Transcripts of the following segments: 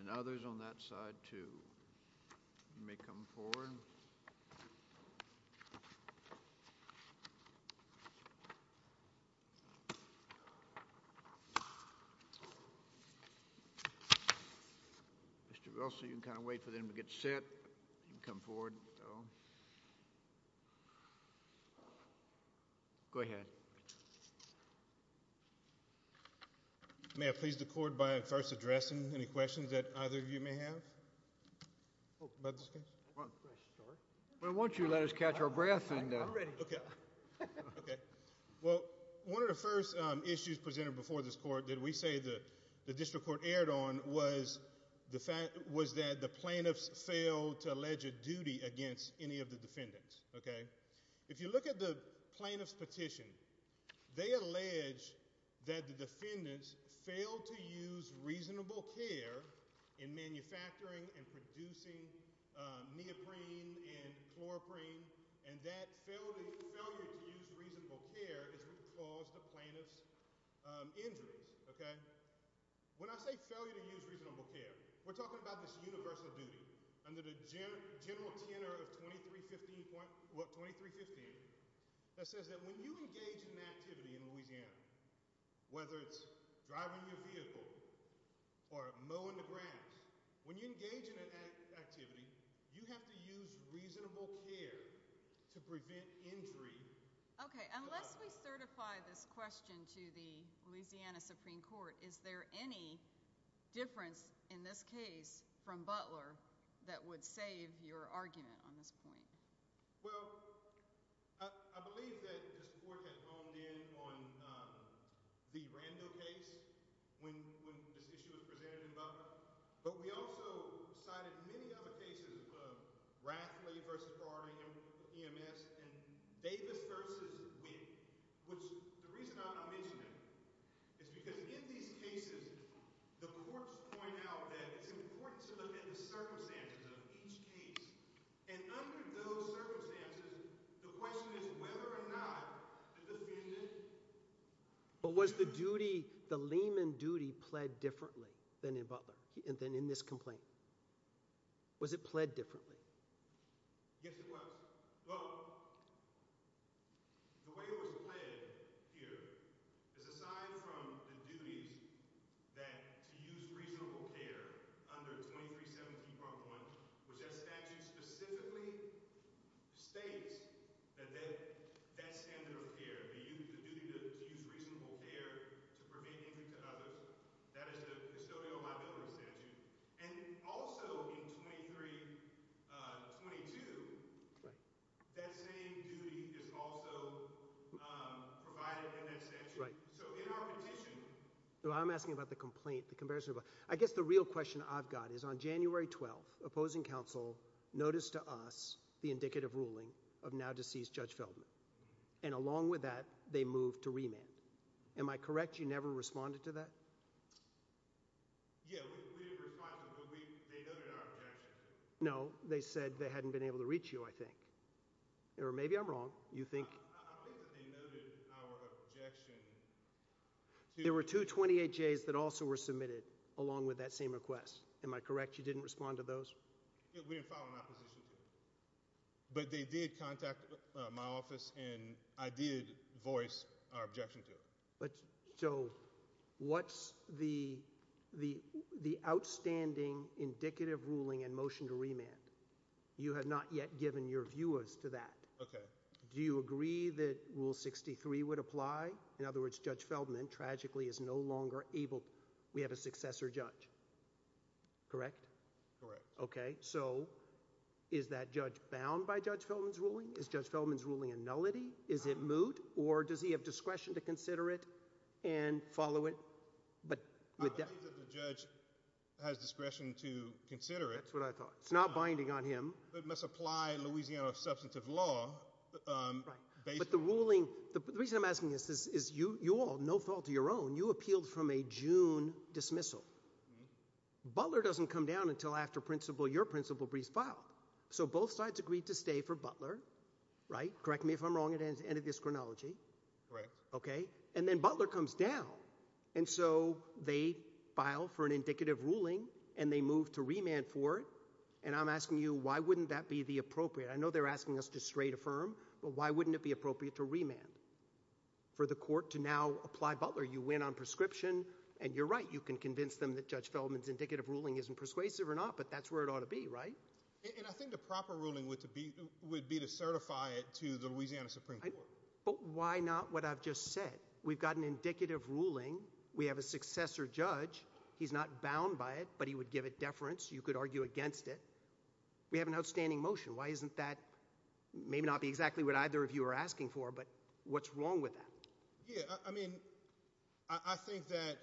and others on that side too. You may come forward Mr. Russell you can kind of wait for them to get set and come forward. Go ahead. May I please the court by first addressing any questions that either of you may have? Why don't you let us catch our breath and okay. Well one of the first issues presented before this court that we say that the district court aired on was the fact was that the plaintiffs failed to allege a duty against any of the defendants. Okay if you look at the plaintiffs petition they allege that the defendants failed to use reasonable care in manufacturing and producing neoprene and chloroprene and that failure to use reasonable care is what caused the plaintiffs injuries. Okay when I say failure to use reasonable care we're talking about this universal duty under the general tenor of 2315 point what 2315 that says that when you engage in an activity in Louisiana whether it's driving your vehicle or mowing the grass when you engage in an activity you have to use reasonable care to prevent injury. Okay unless we certify this question to the Louisiana Supreme Court is there any difference in this case from Butler that would save your argument on this point? Well I believe that this court had honed in on the Rando case when this issue was presented in Butler but we also cited many other cases Rathle versus Broderick EMS and Davis versus Witt which the reason I don't mention that is because in these cases the courts point out that it's important to look at the circumstances of each case and under those circumstances the question is whether or not the defendant... But was the duty the layman duty pled differently than in Butler and then in this complaint was it pled differently? Yes it was. Well the way it was pled here is aside from the duties that to use reasonable care under 2317 part 1 which that statute specifically states that that's standard of care the duty to use reasonable care to prevent injury to others that is the custodial liability statute and also in 2322 that same duty is also provided in that statute. Right. So in our petition. Well I'm asking about the complaint the comparison but I guess the real question I've got is on January 12th opposing counsel notice to us the indicative ruling of now deceased Judge Feldman. And along with that they moved to remand. Am I correct. You never responded to that. No they said they hadn't been able to reach you I think. Or maybe I'm wrong. You think there were 228 days that also were submitted along with that same request. Am I correct. You didn't respond to those. We didn't file an opposition. But they did contact my office and I did voice our objection to it. But so what's the the the outstanding indicative ruling and motion to remand. You have not yet given your viewers to that. OK. Do you agree that rule 63 would apply. In other words Judge Feldman tragically is no longer able. We have a successor judge. Correct. Correct. OK. So is that judge bound by Judge Feldman's ruling is Judge Feldman's ruling a nullity. Is it moot or does he have discretion to consider it and follow it. But the judge has discretion to consider it. That's what I thought. It's not binding on him. It must apply in Louisiana substantive law. But the ruling. The reason I'm asking is this is you you all no fault of your own. You appealed from a June dismissal. Butler doesn't come down until after principal your principal briefs file. So both sides agreed to stay for Butler. Right. Correct me if I'm wrong. It ends end of this chronology. Right. OK. And then Butler comes down. And so they file for an indicative ruling and they move to remand for it. And I'm asking you why wouldn't that be the appropriate. I know they're asking us to straight affirm. But why wouldn't it be appropriate to remand for the court to now apply Butler. You win on prescription and you're right. You can convince them that Judge Feldman's indicative ruling isn't persuasive or not. But that's where it ought to be right. And I think the proper ruling would to be would be to certify it to the Louisiana Supreme Court. But why not. What I've just said. We've got an indicative ruling. We have a successor judge. He's not bound by it but he would give it deference. You could argue against it. We have an outstanding motion. Why isn't that maybe not be exactly what either of you are asking for. But what's wrong with that. Yeah. I mean I think that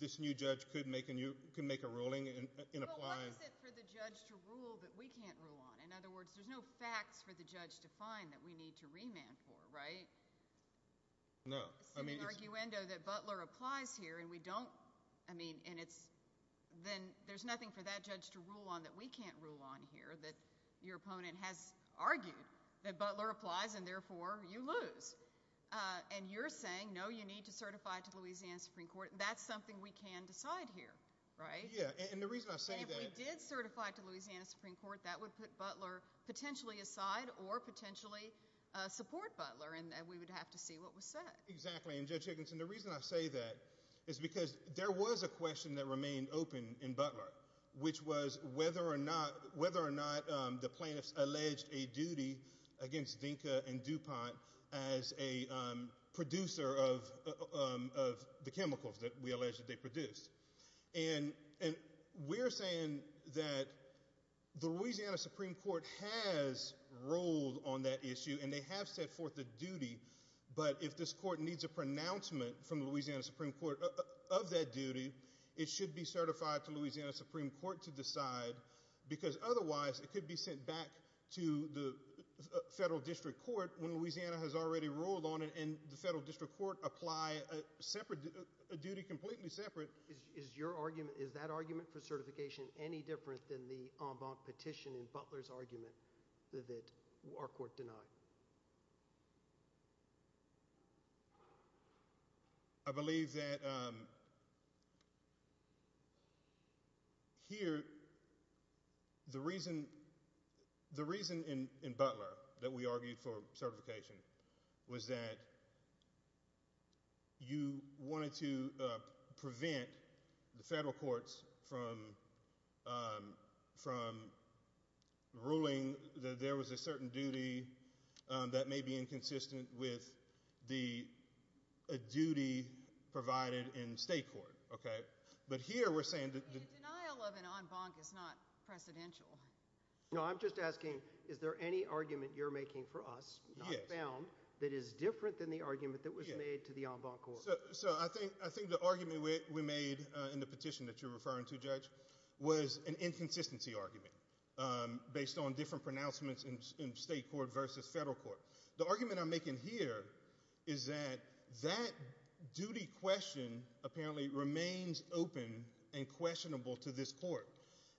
this new judge could make and you can make a ruling and apply. Why is it for the judge to rule that we can't rule on. In other words there's no facts for the judge to find that we need to remand for. Right. No. I mean it's an arguendo that Butler applies here and we don't. I mean and it's then there's nothing for that judge to rule on that we can't rule on here that your opponent has argued that Butler applies and therefore you lose. And you're saying no you need to certify to Louisiana Supreme Court. That's something we can decide here. Right. Yeah. And the reason I say that. If you did certify to Louisiana Supreme Court that would put Butler potentially aside or potentially support Butler and we would have to see what was said. Exactly. And Judge Higginson the reason I say that is because there was a question that remained open in Butler which was whether or not whether or not the plaintiffs alleged a duty against Dinka and DuPont as a producer of the chemicals that we alleged they produced. And we're saying that the Louisiana Supreme Court has ruled on that issue and they have set forth the duty. But if this court needs a pronouncement from Louisiana Supreme Court of that duty it should be certified to Louisiana Supreme Court to decide because otherwise it could be sent back to the federal district court when Louisiana has already ruled on it and the federal district court apply a separate duty completely separate. Is your argument is that argument for certification any different than the en banc petition in Butler's argument that our court denied. I believe that here. The reason the reason in Butler that we argued for certification was that you wanted to prevent the federal courts from from ruling that there was a certain duty. That may be inconsistent with the duty provided in state court. OK. But here we're saying that the denial of an en banc is not precedential. No I'm just asking is there any argument you're making for us found that is different than the argument that was made to the en banc court. So I think I think the argument we made in the petition that you're referring to judge was an inconsistency argument based on different pronouncements in state court versus federal court. The argument I'm making here is that that duty question apparently remains open and questionable to this court.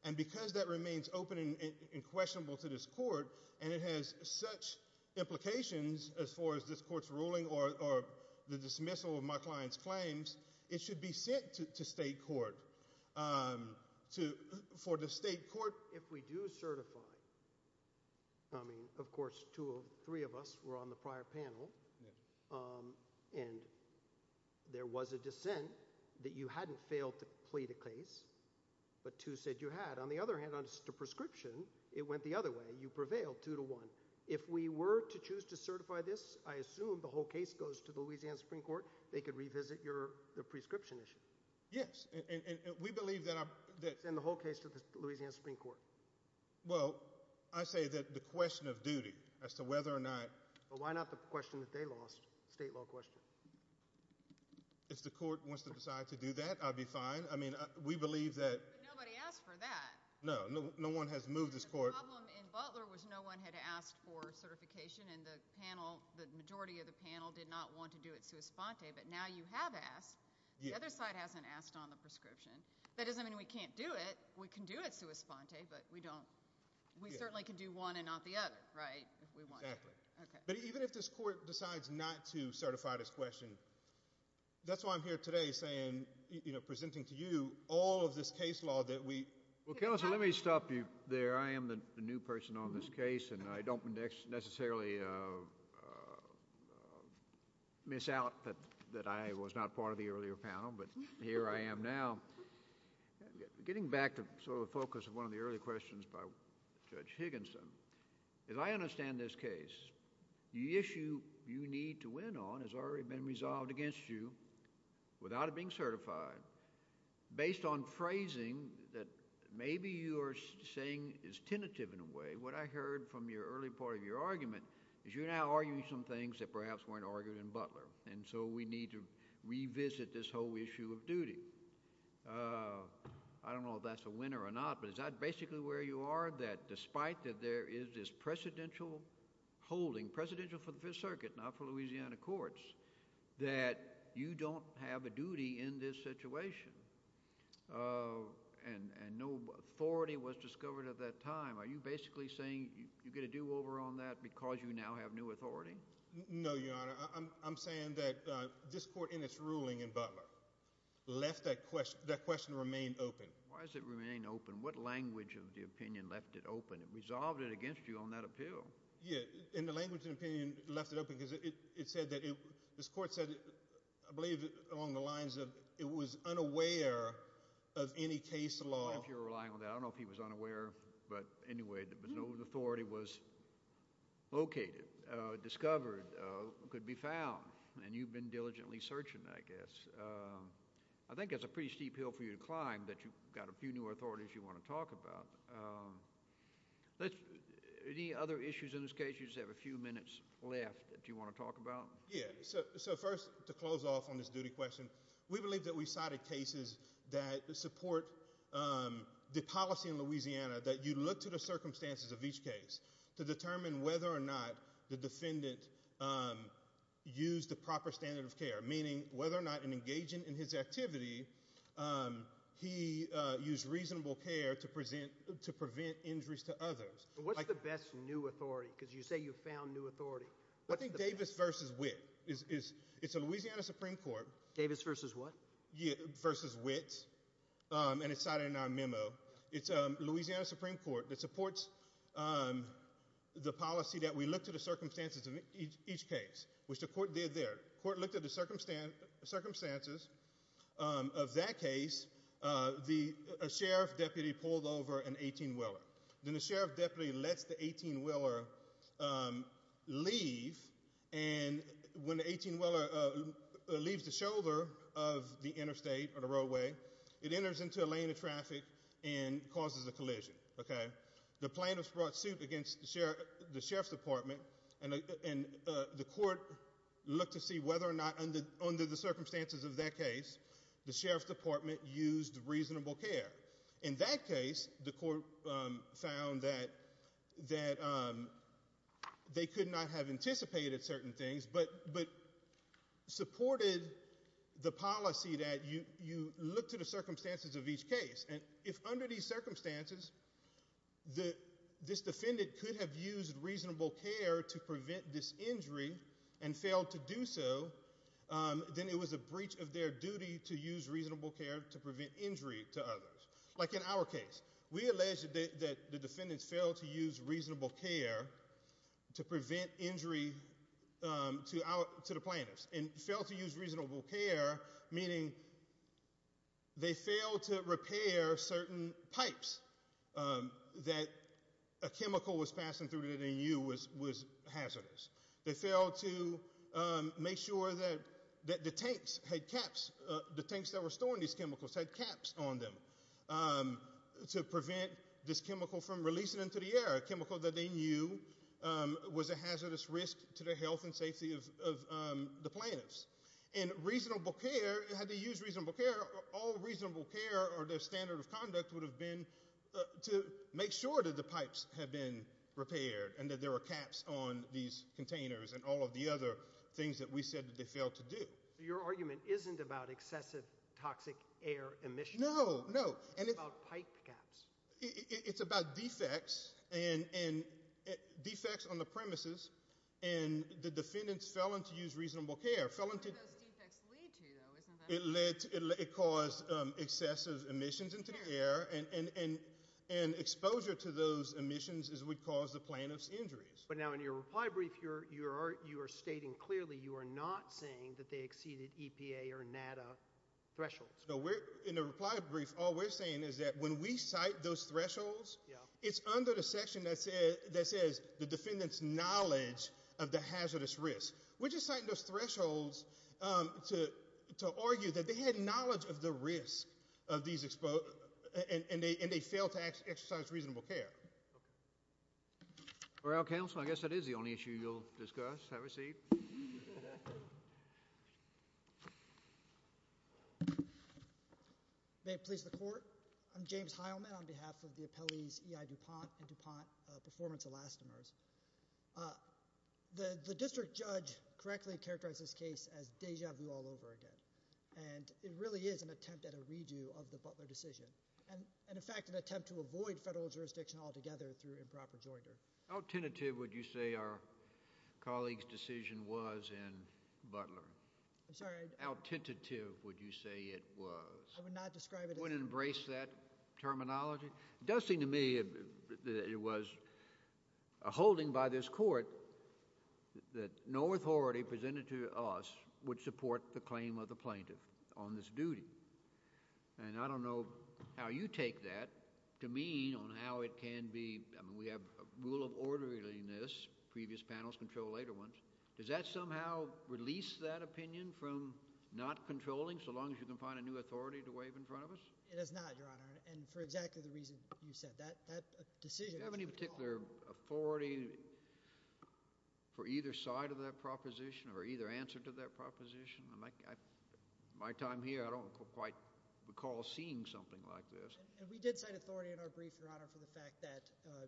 And because that remains open and questionable to this court and it has such implications as far as this court's ruling or the dismissal of my client's claims it should be sent to state court to for the state court. And therefore if we do certify I mean of course two or three of us were on the prior panel and there was a dissent that you hadn't failed to plead a case but to said you had on the other hand on the prescription it went the other way. You prevailed two to one. If we were to choose to certify this I assume the whole case goes to the Louisiana Supreme Court. They could revisit your prescription issue. Yes. And we believe that that's in the whole case to the Louisiana Supreme Court. Well I say that the question of duty as to whether or not. Why not the question that they lost state law question. If the court wants to decide to do that I'll be fine. I mean we believe that nobody asked for that. No no no one has moved this court in Butler was no one had asked for certification in the panel. The majority of the panel did not want to do it. So it's fine. But now you have asked the other side hasn't asked on the prescription. That doesn't mean we can't do it. We can do it. So it's fine. OK. But we don't we certainly can do one and not the other. Right. Exactly. But even if this court decides not to certify this question that's why I'm here today saying you know presenting to you all of this case law that we will kill us. Let me stop you there. I am the new person on this case and I don't index necessarily miss out that that I was not part of the earlier panel. But here I am now getting back to sort of the focus of one of the earlier panel. And I'm going to ask a couple of further questions by Judge Higginson. As I understand this case the issue you need to win on has already been resolved against you without it being certified based on phrasing that maybe you are saying is tentative in a way. What I heard from your early part of your argument is you now are using some things that perhaps weren't argued in Butler. And so we need to revisit this whole issue of duty. I don't know if that's a winner or not but is that basically where you are that despite that there is this precedential holding presidential for the Fifth Circuit not for Louisiana courts that you don't have a duty in this situation and no authority was discovered at that time. Are you basically saying you get a do over on that because you now have new authority. No Your Honor. I'm saying that this court in its ruling in Butler left that question that question remain open. Why does it remain open. What language of the opinion left it open. It resolved it against you on that appeal. In the language of opinion left it open because it said that this court said I believe along the lines of it was unaware of any case law. If you're relying on that I don't know if he was unaware. But anyway there was no authority was located discovered could be found and you've been diligently searching I guess. I think it's a pretty steep hill for you to climb that you've got a few new authorities you want to talk about any other issues in this case you have a few minutes left. Yeah. So first to close off on this duty question we believe that we cited cases that support the policy in Louisiana that you look to the circumstances of each case to determine whether or not the defendant used the proper standard of care meaning whether or not engaging in his activity. He used reasonable care to present to prevent injuries to others like the best new authority because you say you found new authority. I think Davis versus wit is it's a Louisiana Supreme Court Davis versus what versus wits and it's not in our memo. It's a Louisiana Supreme Court that supports the policy that we look to the circumstances of each case which the court did their court looked at the circumstance circumstances of that case. The sheriff deputy pulled over an 18 Weller then the sheriff deputy lets the 18 Weller leave. And when 18 Weller leaves the shoulder of the interstate or the roadway it enters into a lane of traffic and causes a collision. OK. The plaintiffs brought suit against the sheriff the sheriff's department and the court looked to see whether or not under the circumstances of that case the sheriff's department used reasonable care. In that case the court found that that they could not have anticipated certain things but but supported the policy that you look to the circumstances of each case. And if under these circumstances that this defendant could have used reasonable care to prevent this injury and failed to do so then it was a breach of their duty to use reasonable care to prevent injury to others like in our case. We alleged that the defendants failed to use reasonable care to prevent injury to our to the plaintiffs and failed to use reasonable care meaning they failed to repair certain pipes that a chemical was passing through it and you was was hazardous. They failed to make sure that the tanks had caps the tanks that were storing these chemicals had caps on them to prevent this chemical from releasing into the air a chemical that they knew was a hazardous risk to the health and safety of the plaintiffs and reasonable care. All reasonable care or their standard of conduct would have been to make sure that the pipes had been repaired and that there were caps on these containers and all of the other things that we said that they failed to do your argument isn't about excessive toxic air emission. No no and it's about pipe caps. It's about defects and defects on the premises and the defendants felon to use reasonable care felon to let it cause excessive emissions into the air and exposure to those emissions is would cause the plaintiffs injuries. But now in your reply brief you're you are you are stating clearly you are not saying that they exceeded EPA or NADA thresholds. So we're in a reply brief. All we're saying is that when we cite those thresholds it's under the section that says that says the defendants knowledge of the hazardous risk which is citing those thresholds to to argue that they had knowledge of the risk of these exposed and they and they failed to exercise reasonable care. Well counsel I guess that is the only issue you'll discuss. Have a seat. May it please the court. I'm James Heilman on behalf of the appellees EI DuPont and DuPont performance elastomers. The district judge correctly characterized this case as deja vu all over again and it really is an attempt at a redo of the Butler decision and in fact an attempt to avoid federal jurisdiction altogether through improper jointer. How tentative would you say our colleagues decision was in Butler. I'm sorry. How tentative would you say it was. I would not describe it. Wouldn't embrace that terminology. It does seem to me that it was a holding by this court that no authority presented to us would support the claim of the plaintiff on this duty. And I don't know how you take that to mean on how it can be. We have a rule of orderliness. Previous panels control later ones. Does that somehow release that opinion from not controlling so long as you can find a new authority to wave in front of us. It is not your honor. And for exactly the reason you said that that decision have any particular authority for either side of that proposition or either answer to that proposition. My time here I don't quite recall seeing something like this. And we did cite authority in our brief your honor for the fact that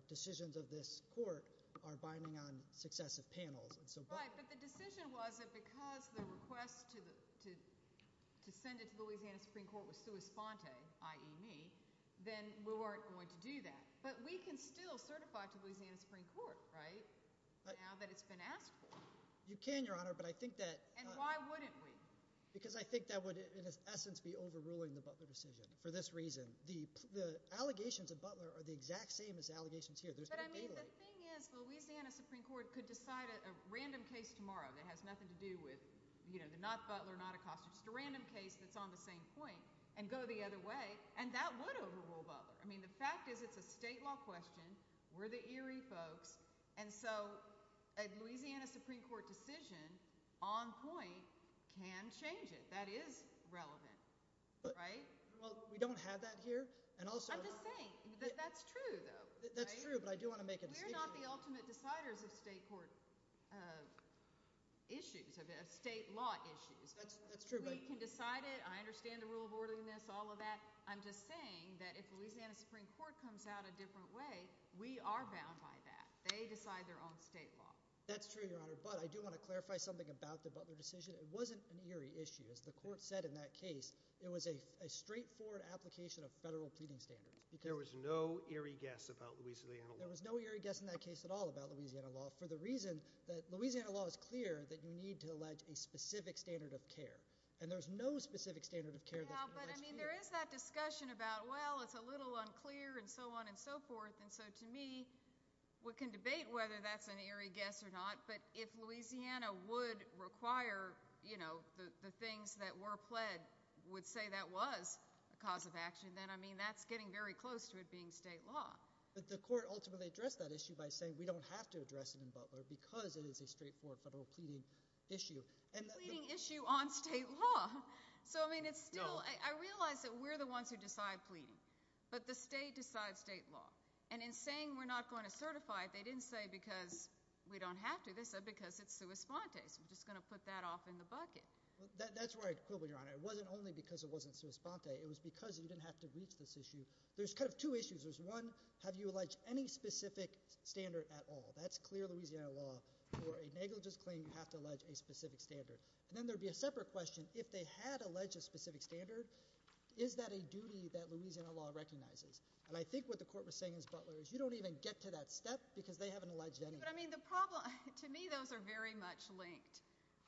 decisions of this court are binding on successive panels. But the decision was that because the request to send it to Louisiana Supreme Court was sua sponte i.e. me then we weren't going to do that. But we can still certify to Louisiana Supreme Court right now that it's been asked for. You can your honor but I think that. And why wouldn't we. Because I think that would in essence be overruling the Butler decision for this reason. The allegations of Butler are the exact same as allegations here. But I mean the thing is Louisiana Supreme Court could decide a random case tomorrow that has nothing to do with you know the not Butler not Acosta. Just a random case that's on the same point and go the other way and that would overrule Butler. I mean the fact is it's a state law question. We're the eerie folks. And so a Louisiana Supreme Court decision on point can change it. That is relevant. Right. Well we don't have that here. And also I'm just saying that's true though. That's true. But I do want to make it not the ultimate deciders of state court issues of state law issues. That's true. We can decide it. I understand the rule of orderliness all of that. I'm just saying that if Louisiana Supreme Court comes out a different way we are bound by that. They decide their own state law. That's true Your Honor. But I do want to clarify something about the Butler decision. It wasn't an eerie issue as the court said in that case. It was a straightforward application of federal pleading standards. There was no eerie guess about Louisiana. There was no eerie guess in that case at all about Louisiana law for the reason that Louisiana law is clear that you need to allege a specific standard of care. And there's no specific standard of care. But I mean there is that discussion about well it's a little unclear and so on and so forth. And so to me we can debate whether that's an eerie guess or not. But if Louisiana would require you know the things that were pled would say that was a cause of action. Then I mean that's getting very close to it being state law. But the court ultimately addressed that issue by saying we don't have to address it in Butler because it is a straightforward federal pleading issue. And pleading issue on state law. So I mean it's still I realize that we're the ones who decide pleading. But the state decides state law. And in saying we're not going to certify it, they didn't say because we don't have to. They said because it's sui sponte. So we're just going to put that off in the bucket. That's where I quibble, Your Honor. It wasn't only because it wasn't sui sponte. It was because you didn't have to reach this issue. There's kind of two issues. There's one, have you alleged any specific standard at all? That's clear Louisiana law for a negligence claim you have to allege a specific standard. And then there would be a separate question. If they had alleged a specific standard, is that a duty that Louisiana law recognizes? And I think what the court was saying is Butler is you don't even get to that step because they haven't alleged anything. But I mean the problem to me those are very much linked.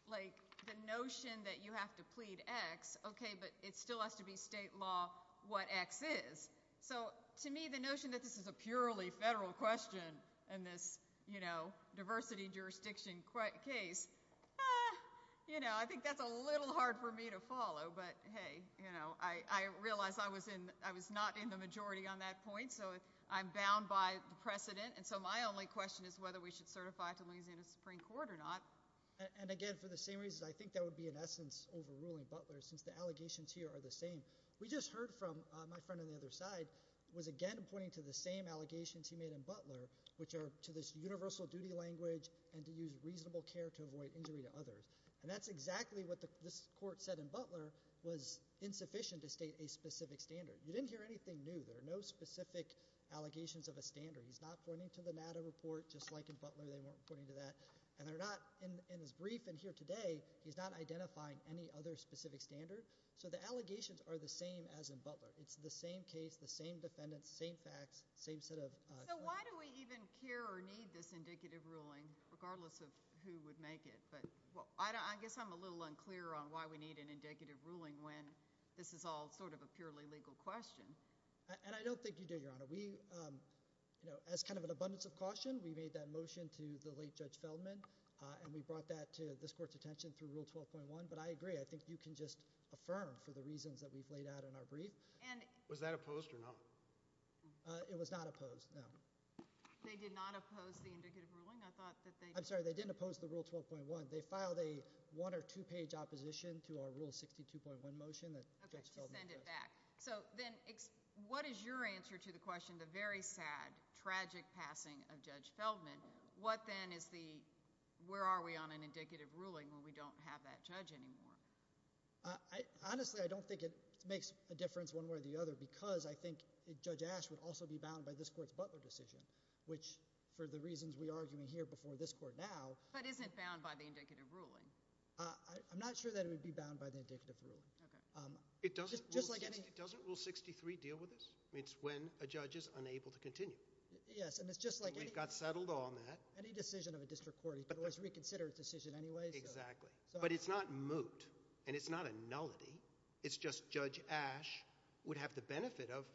Like the notion that you have to plead X, okay, but it still has to be state law what X is. So to me the notion that this is a purely federal question in this, you know, diversity jurisdiction case, you know, I think that's a little hard for me to follow. But hey, you know, I realize I was not in the majority on that point. So I'm bound by the precedent. And so my only question is whether we should certify to Louisiana Supreme Court or not. And again, for the same reasons I think that would be in essence overruling Butler since the allegations here are the same. We just heard from my friend on the other side was again pointing to the same allegations he made in Butler which are to this universal duty language and to use reasonable care to avoid injury to others. And that's exactly what this court said in Butler was insufficient to state a specific standard. You didn't hear anything new. There are no specific allegations of a standard. He's not pointing to the NADA report just like in Butler they weren't pointing to that. And they're not in his brief in here today he's not identifying any other specific standard. So the allegations are the same as in Butler. It's the same case, the same defendants, same facts, same set of. So why do we even care or need this indicative ruling regardless of who would make it? But I guess I'm a little unclear on why we need an indicative ruling when this is all sort of a purely legal question. And I don't think you do, Your Honor. We, you know, as kind of an abundance of caution we made that motion to the late Judge Feldman and we brought that to this court's attention through Rule 12.1. But I agree, I think you can just affirm for the reasons that we've laid out in our brief. Was that opposed or not? It was not opposed, no. They did not oppose the indicative ruling? I'm sorry, they didn't oppose the Rule 12.1. They filed a one or two-page opposition to our Rule 62.1 motion that Judge Feldman passed. Okay, just send it back. So then what is your answer to the question, the very sad, tragic passing of Judge Feldman? What then is the, where are we on an indicative ruling when we don't have that judge anymore? Honestly, I don't think it makes a difference one way or the other because I think Judge Ash would also be bound by this court's Butler decision which for the reasons we argue in here before this court now. But isn't it bound by the indicative ruling? I'm not sure that it would be bound by the indicative ruling. Okay. It doesn't, doesn't Rule 63 deal with this? It's when a judge is unable to continue. Yes, and it's just like any. We've got settled on that. Any decision of a district court, you can always reconsider its decision anyway. Exactly, but it's not moot and it's not a nullity. It's just Judge Ash would have the benefit of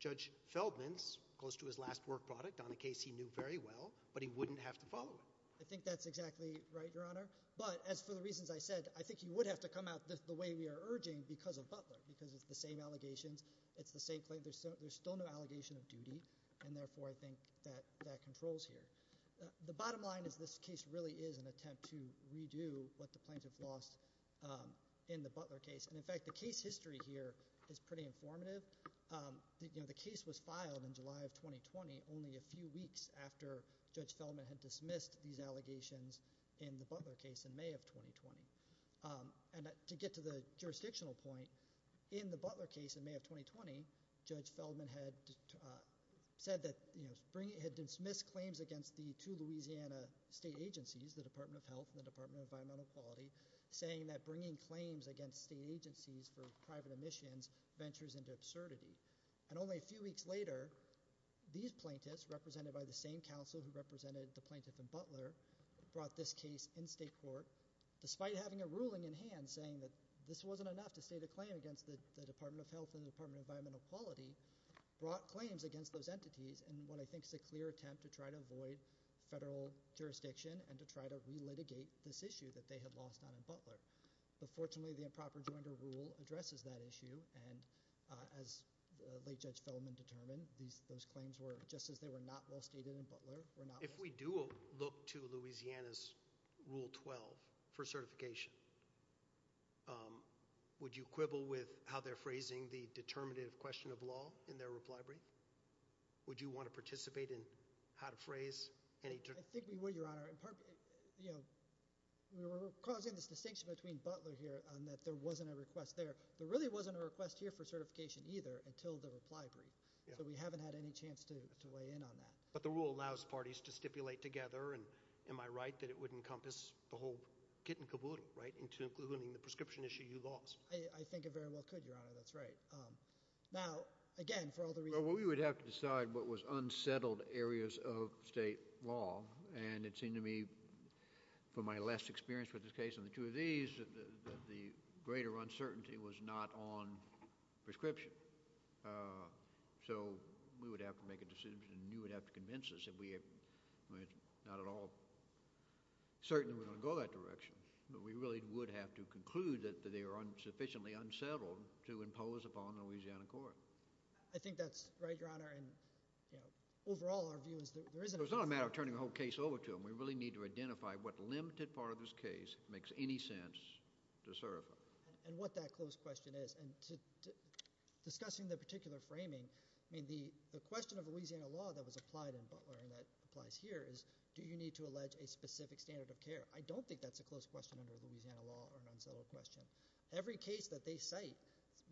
Judge Feldman's, close to his last work product on a case he knew very well, but he wouldn't have to follow it. I think that's exactly right, Your Honor. But as for the reasons I said, I think he would have to come out the way we are urging because of Butler, because it's the same allegations. It's the same claim. There's still no allegation of duty and therefore I think that that controls here. The bottom line is this case really is an attempt to redo what the plaintiff lost in the Butler case. In fact, the case history here is pretty informative. The case was filed in July of 2020, only a few weeks after Judge Feldman had dismissed these allegations in the Butler case in May of 2020. And to get to the jurisdictional point, in the Butler case in May of 2020, Judge Feldman had dismissed claims against the two Louisiana state agencies, the Department of Health and the Department of Environmental Equality, saying that bringing claims against state agencies for private emissions ventures into absurdity. And only a few weeks later, these plaintiffs, represented by the same counsel who represented the plaintiff in Butler, brought this case in state court, despite having a ruling in hand saying that this wasn't enough to state a claim against the Department of Health and the Department of Environmental Equality, brought claims against those entities in what I think is a clear attempt to try to avoid federal jurisdiction and to try to relitigate this issue that they had lost on in Butler. But fortunately, the improper joinder rule addresses that issue, and as late Judge Feldman determined, those claims were, just as they were not well stated in Butler, were not well stated in Butler. If we do look to Louisiana's Rule 12 for certification, would you quibble with how they're phrasing the determinative question of law in their reply brief? Would you want to participate in how to phrase any... I think we would, Your Honor. You know, we were causing this distinction between Butler here and that there wasn't a request there. There really wasn't a request here for certification either until the reply brief. So we haven't had any chance to weigh in on that. But the rule allows parties to stipulate together, and am I right that it would encompass the whole kit and caboodle, right, including the prescription issue you lost? I think it very well could, Your Honor. That's right. Now, again, for all the reasons... Well, we would have to decide what was unsettled areas of state law and it seemed to me, from my less experience with this case and the two of these, that the greater uncertainty was not on prescription. So we would have to make a decision, and you would have to convince us that we are not at all certain that we're going to go that direction. But we really would have to conclude that they are sufficiently unsettled to impose upon Louisiana court. I think that's right, Your Honor. And, you know, overall, our view is that there isn't... So it's not a matter of turning the whole case over to them. We really need to identify what limited part of this case makes any sense to certify. And what that close question is. And discussing the particular framing, I mean, the question of Louisiana law that was applied in Butler and that applies here is, do you need to allege a specific standard of care? I don't think that's a close question under Louisiana law or an unsettled question. Every case that they cite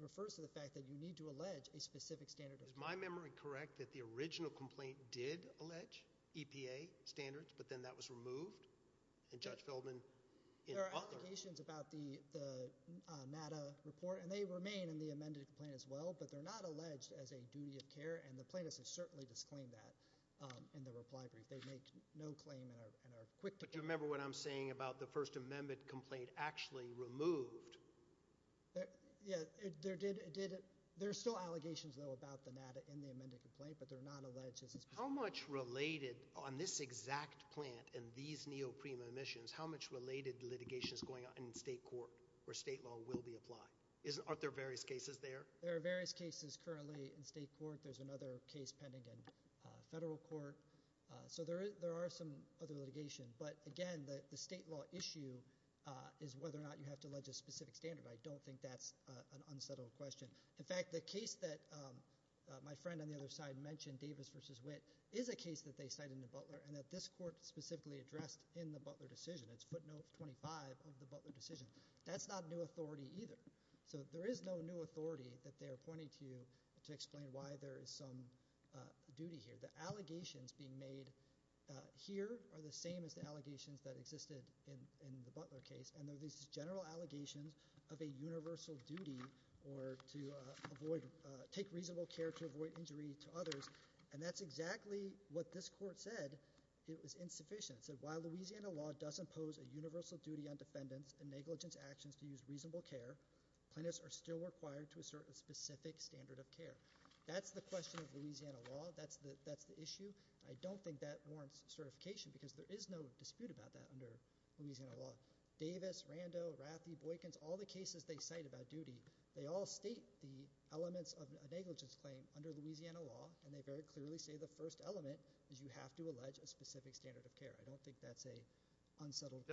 refers to the fact that you need to allege a specific standard of care. Is my memory correct that the original complaint did allege? EPA standards, but then that was removed? And Judge Feldman in Butler... There are allegations about the NADA report, and they remain in the amended complaint as well, but they're not alleged as a duty of care, and the plaintiffs have certainly disclaimed that in the reply brief. They make no claim and are quick to... But do you remember what I'm saying about the First Amendment complaint actually removed? Yeah, there did... There are still allegations, though, about the NADA in the amended complaint, but they're not alleged as... On this exact plant and these neoprene emissions, how much related litigation is going on in state court where state law will be applied? Are there various cases there? There are various cases currently in state court. There's another case pending in federal court. So there are some other litigation, but again, the state law issue is whether or not you have to allege a specific standard. I don't think that's an unsettled question. In fact, the case that my friend on the other side mentioned, Davis v. Witt, is a case that they cite in the Butler and that this court specifically addressed in the Butler decision. It's footnote 25 of the Butler decision. That's not new authority either. So there is no new authority that they are pointing to to explain why there is some duty here. The allegations being made here are the same as the allegations that existed in the Butler case, and they're these general allegations of a universal duty or to avoid... Take reasonable care to avoid injury to others, and that's exactly what this court said. It was insufficient. It said, while Louisiana law does impose a universal duty on defendants and negligence actions to use reasonable care, plaintiffs are still required to assert a specific standard of care. That's the question of Louisiana law. That's the issue. I don't think that warrants certification because there is no dispute about that under Louisiana law. Davis, Rando, Rathy, Boykins, all the cases they cite about duty, they all state the elements of a negligence claim under Louisiana law, and they very clearly say the first element is you have to allege a specific standard of care. I don't think that's an unsettled...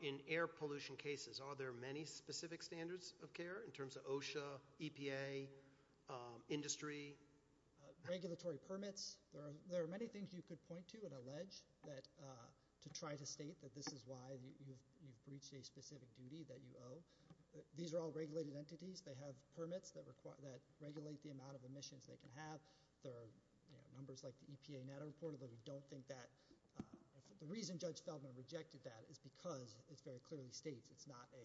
In air pollution cases, are there many specific standards of care in terms of OSHA, EPA, industry? Regulatory permits. There are many things you could point to that this is why you've breached a specific duty that you owe. These are all regulated entities. They have permits that regulate the amount of emissions they can have. There are numbers like the EPA that are reported, but we don't think that... The reason Judge Feldman rejected that is because it very clearly states it's not a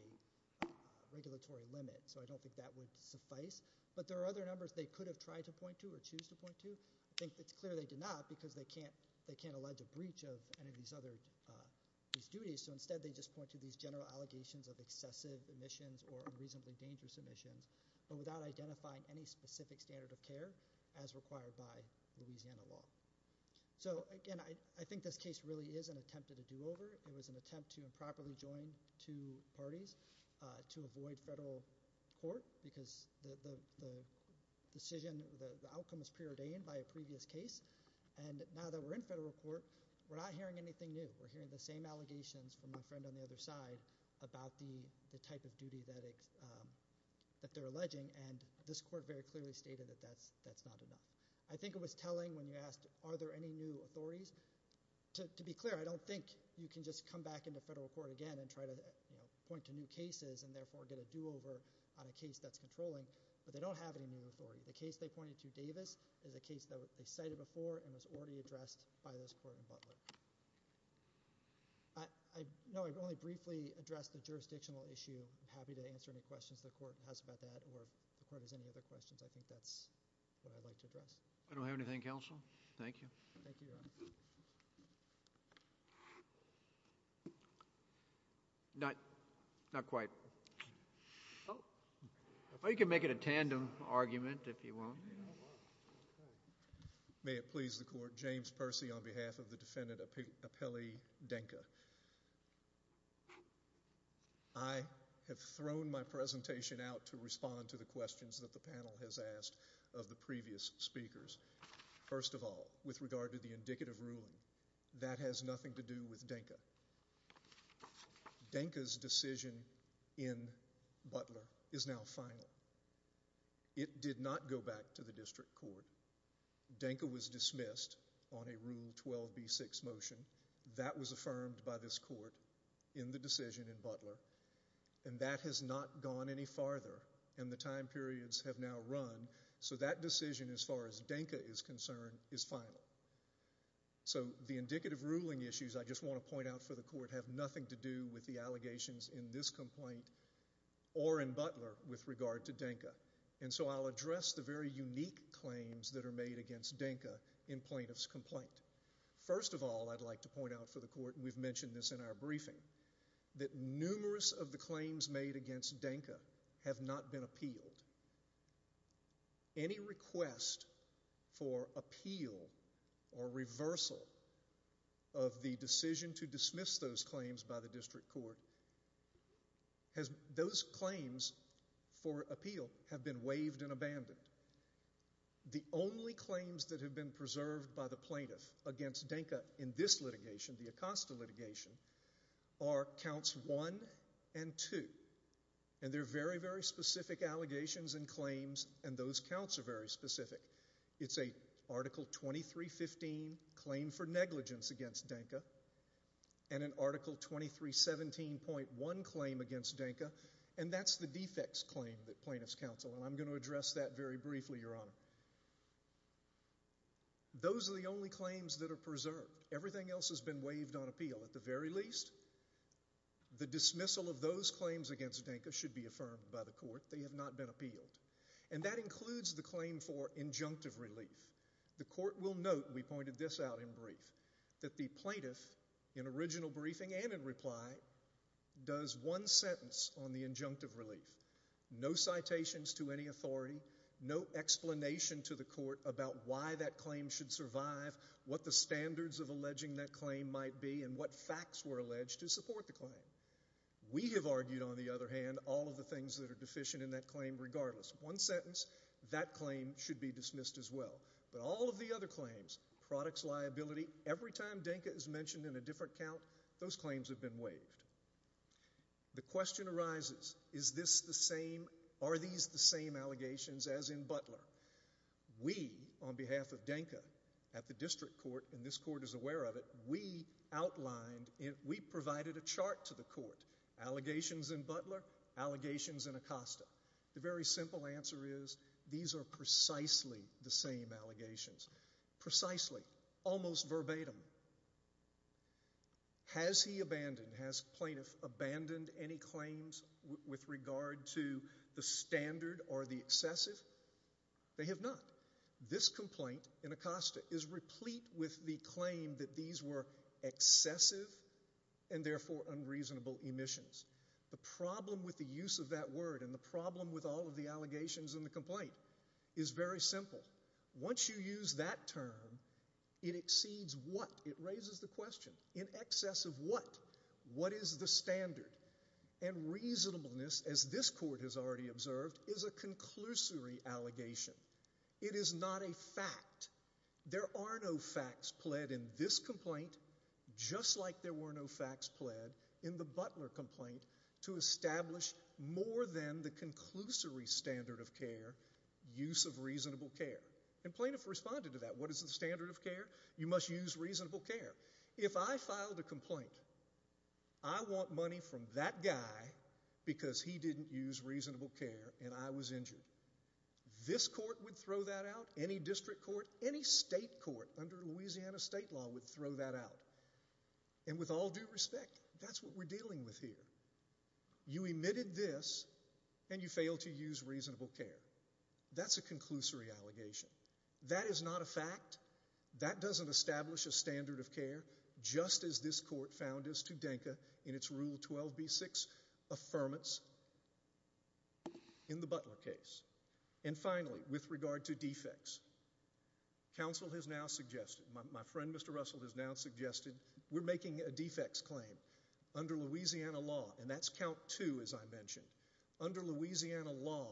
regulatory limit, so I don't think that would suffice. But there are other numbers they could have tried to point to or choose to point to. I think it's clear they did not because they can't allege a breach of any of these duties, whether it be emissions or unreasonably dangerous emissions, but without identifying any specific standard of care as required by Louisiana law. Again, I think this case really is an attempt at a do-over. It was an attempt to improperly join two parties to avoid federal court because the decision, the outcome was preordained by a previous case. Now that we're in federal court, we're not hearing anything new. We're hearing the same allegations about the duty that they're alleging, and this court very clearly stated that that's not enough. I think it was telling when you asked, are there any new authorities? To be clear, I don't think you can just come back into federal court again and try to point to new cases and therefore get a do-over on a case that's controlling, but they don't have any new authority. The case they pointed to, Davis, is a case that they cited before and was already addressed by this court in Butler. I'm happy to answer any questions the court has about that or if the court has any other questions, I think that's what I'd like to address. I don't have anything, counsel. Thank you. Thank you, Your Honor. Not quite. Oh. You can make it a tandem argument if you want. May it please the court, James Percy on behalf of the defendant, Apelli Denka. I have thrown my presentation out to respond to the questions that the panel has asked of the previous speakers. First of all, with regard to the indicative ruling, that has nothing to do with Denka. Denka's decision in Butler is now final. It did not go back to the district court. Denka was dismissed on a Rule 12b6 motion. That was affirmed by this court in the decision in Butler. And that has not gone any farther. And the time periods have now run. So that decision, as far as Denka is concerned, is final. So the indicative ruling issues I just want to point out for the court have nothing to do with the allegations in this complaint or in Butler with regard to Denka. And so I'll address the very unique claims that are made against Denka in plaintiff's complaint. I mentioned this in our briefing, that numerous of the claims made against Denka have not been appealed. Any request for appeal or reversal of the decision to dismiss those claims by the district court, those claims for appeal have been waived and abandoned. The only claims that have been preserved by the plaintiff against Denka in this application are counts one and two. And they're very, very specific allegations and claims and those counts are very specific. It's an article 2315 claim for negligence against Denka and an article 2317.1 claim against Denka. And that's the defects claim that plaintiffs counsel. And I'm going to address that very briefly, Your Honor. Those are the only claims that are preserved. Everything else has been waived on appeal. At the very least, the dismissal of those claims against Denka should be affirmed by the court. They have not been appealed. And that includes the claim for injunctive relief. The court will note, we pointed this out in brief, that the plaintiff in original briefing and in reply does one sentence on the injunctive relief. No citations to any authority, no explanation to the court about why that claim should survive, what the standards of alleging that claim might be, and what facts were alleged to support the claim. We have argued, on the other hand, all of the things that are deficient in that claim regardless. One sentence, that claim should be dismissed as well. But all of the other claims, products liability, every time Denka is mentioned in a different count, those claims have been waived. The question arises, is this the same, are these the same allegations as in Butler? We, on behalf of Denka, at the district court, and this court is aware of it, we outlined, we provided a chart to the court. Allegations in Butler, allegations in Acosta. The very simple answer is, these are precisely the same allegations. Precisely, almost verbatim. Has he abandoned, has plaintiff abandoned any claims with regard to the standard or the excessive? They have not. This complaint in Acosta is replete with the claim that these were excessive and therefore unreasonable emissions. The problem with the use of that word and the problem with all of the allegations in the complaint is very simple. Once you use that term, it exceeds what? It raises the question, in excess of what? What is the standard? And reasonableness, as this court has already observed, is a conclusory allegation. It is not a fact. There are no facts pled in this complaint, just like there were no facts pled in the Butler complaint to establish more than the conclusory standard of care, use of reasonable care. And plaintiff responded to that. What is the standard of care? You must use reasonable care. If I filed a complaint, I want money from that guy because he didn't use reasonable care and I was injured. This court would throw that out. Any district court, any state court under Louisiana state law would throw that out. And with all due respect, that's what we're dealing with here. You emitted this and you failed to use reasonable care. That's a conclusory allegation. That is not a fact. That doesn't establish a standard of care, just as this court found us to DENCA in its Rule 12b-6 affirmance in the Butler case. And finally, with regard to defects, counsel has now suggested, my friend Mr. Russell has now suggested, we're making a defects claim under Louisiana law and that's count two, as I mentioned. Under Louisiana law,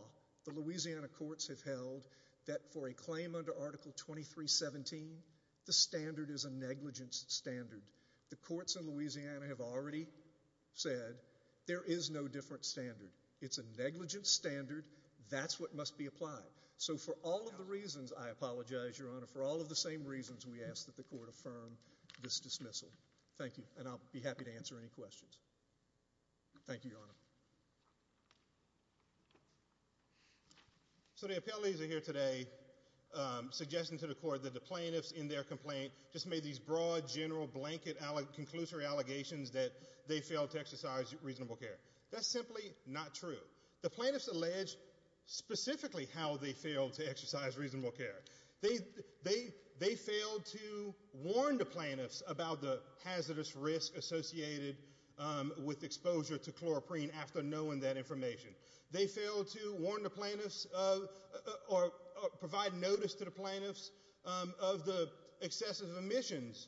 the Louisiana courts have held that for a claim under Article 2317, the standard is a negligence standard. The courts in Louisiana have already said that there is no different standard. It's a negligence standard. That's what must be applied. So for all of the reasons, I apologize Your Honor, for all of the same reasons we ask that the court affirm this dismissal. Thank you. And I'll be happy to answer any questions. Thank you, Your Honor. So the appellees are here today suggesting to the court that the plaintiffs in their complaint just made these broad, general, blanket, conclusory allegations that they failed to exercise reasonable care. That's simply not true. The plaintiffs alleged specifically how they failed to exercise reasonable care. They failed to warn the plaintiffs about the hazardous risk associated with exposure to chloroprene after knowing that information. They failed to warn the plaintiffs or provide notice to the plaintiffs of the excessive emissions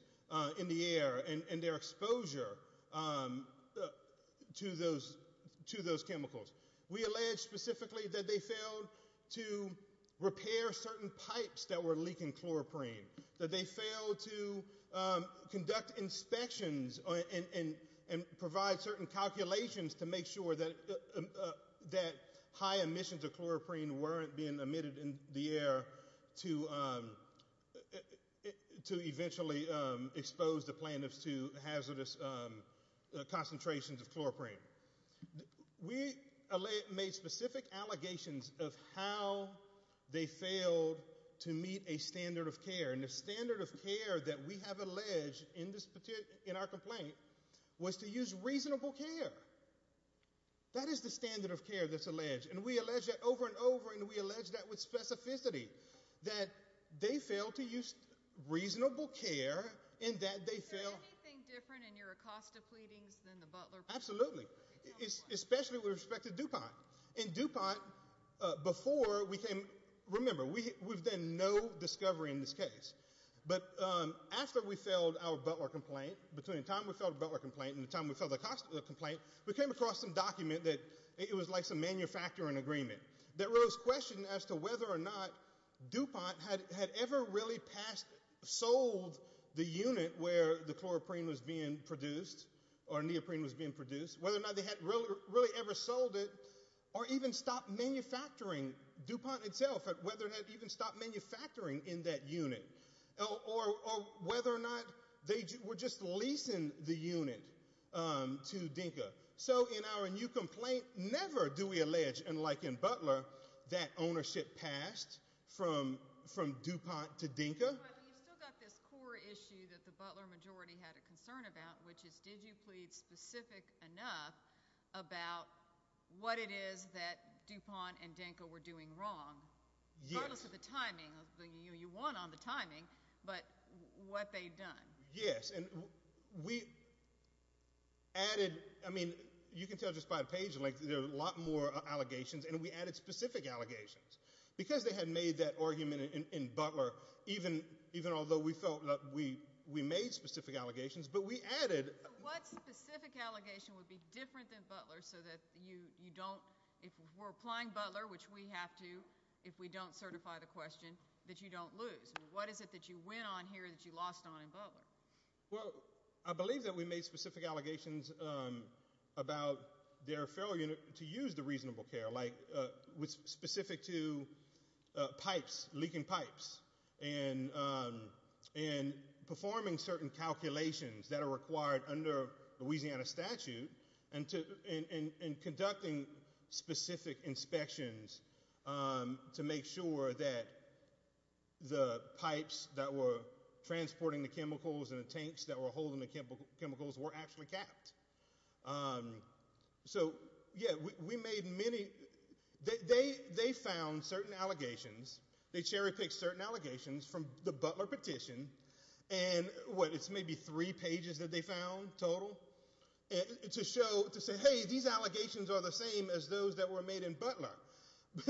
in the air and their exposure to those chemicals. We allege specifically that they failed to repair certain pipes that were leaking chloroprene, that they failed to conduct inspections and provide certain calculations to make sure that high emissions of chloroprene weren't being emitted in the air to eventually expose the plaintiffs to hazardous concentrations of chloroprene. We made specific allegations of how they failed to meet a standard of care. And the standard of care that we have alleged in our complaint was to use reasonable care. That is the standard of care that's alleged. And we allege that over and over, and we allege that with specificity. That they failed to use reasonable care and that they failed... Is there anything different in your Acosta pleadings than the Butler complaint? Absolutely, especially with respect to DuPont. In DuPont, before we came... Remember, we've done no discovery in this case. But after we filed our Butler complaint, between the time we filed the Butler complaint and the time we filed the Acosta complaint, we came across some document that it was like some manufacturing agreement that rose question as to whether or not DuPont had ever really sold the unit where the chloroprene was being produced or neoprene was being produced, whether or not they had really ever sold it or even stopped manufacturing DuPont itself, whether it had even stopped manufacturing in that unit, or whether or not they were just leasing the unit to Denka. So in our new complaint, never do we allege, unlike in Butler, that ownership passed from DuPont to Denka. But you've still got this core issue that the Butler majority had a concern about, which is did you plead specific enough about what it is that DuPont and Denka were doing wrong, regardless of the timing. You won on the timing, but what they'd done. Yes, and we added... I mean, you can tell just by the page length that there are a lot more allegations, and we added specific allegations. Because they had made that argument in Butler, even although we felt that we made specific allegations, but we added... So what specific allegation would be different than Butler so that you don't... If we're applying Butler, which we have to, if we don't certify the question, that you don't lose? What is it that you win on here that you lost on in Butler? Well, I believe that we made specific allegations about their failure to use the reasonable care, like specific to pipes, leaking pipes, and performing certain calculations that are required under Louisiana statute and conducting specific inspections to make sure that the pipes that were transporting the chemicals and the tanks that were holding the chemicals were actually capped. So, yeah, we made many... They found certain allegations. They cherry-picked certain allegations from the Butler petition, and what, it's maybe three pages that they found total, to show, to say, hey, these allegations are the same as those that were made in Butler.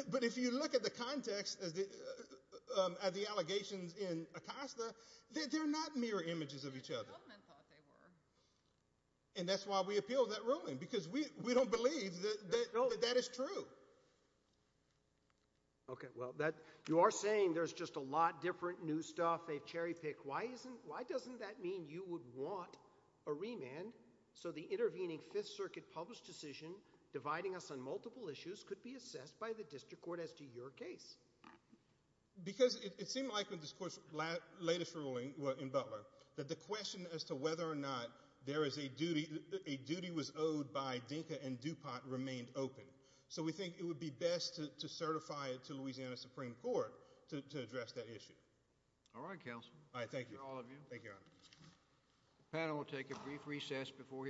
But if you look at the context at the allegations in Acosta, they're not mirror images of each other. That's what the government thought they were. And that's why we appealed that ruling, because we don't believe that that is true. Okay, well, you are saying there's just a lot different new stuff they've cherry-picked. Why doesn't that mean you would want a remand so the intervening Fifth Circuit published decision dividing us on multiple issues could be assessed by the district court as to your case? Because it seemed like, in this court's latest ruling in Butler, that the question as to whether or not there is a duty, a duty was owed by Dinka and DuPont remained open. So we think it would be best to certify it to Louisiana Supreme Court to address that issue. All right, counsel. All right, thank you. Thank you, Your Honor.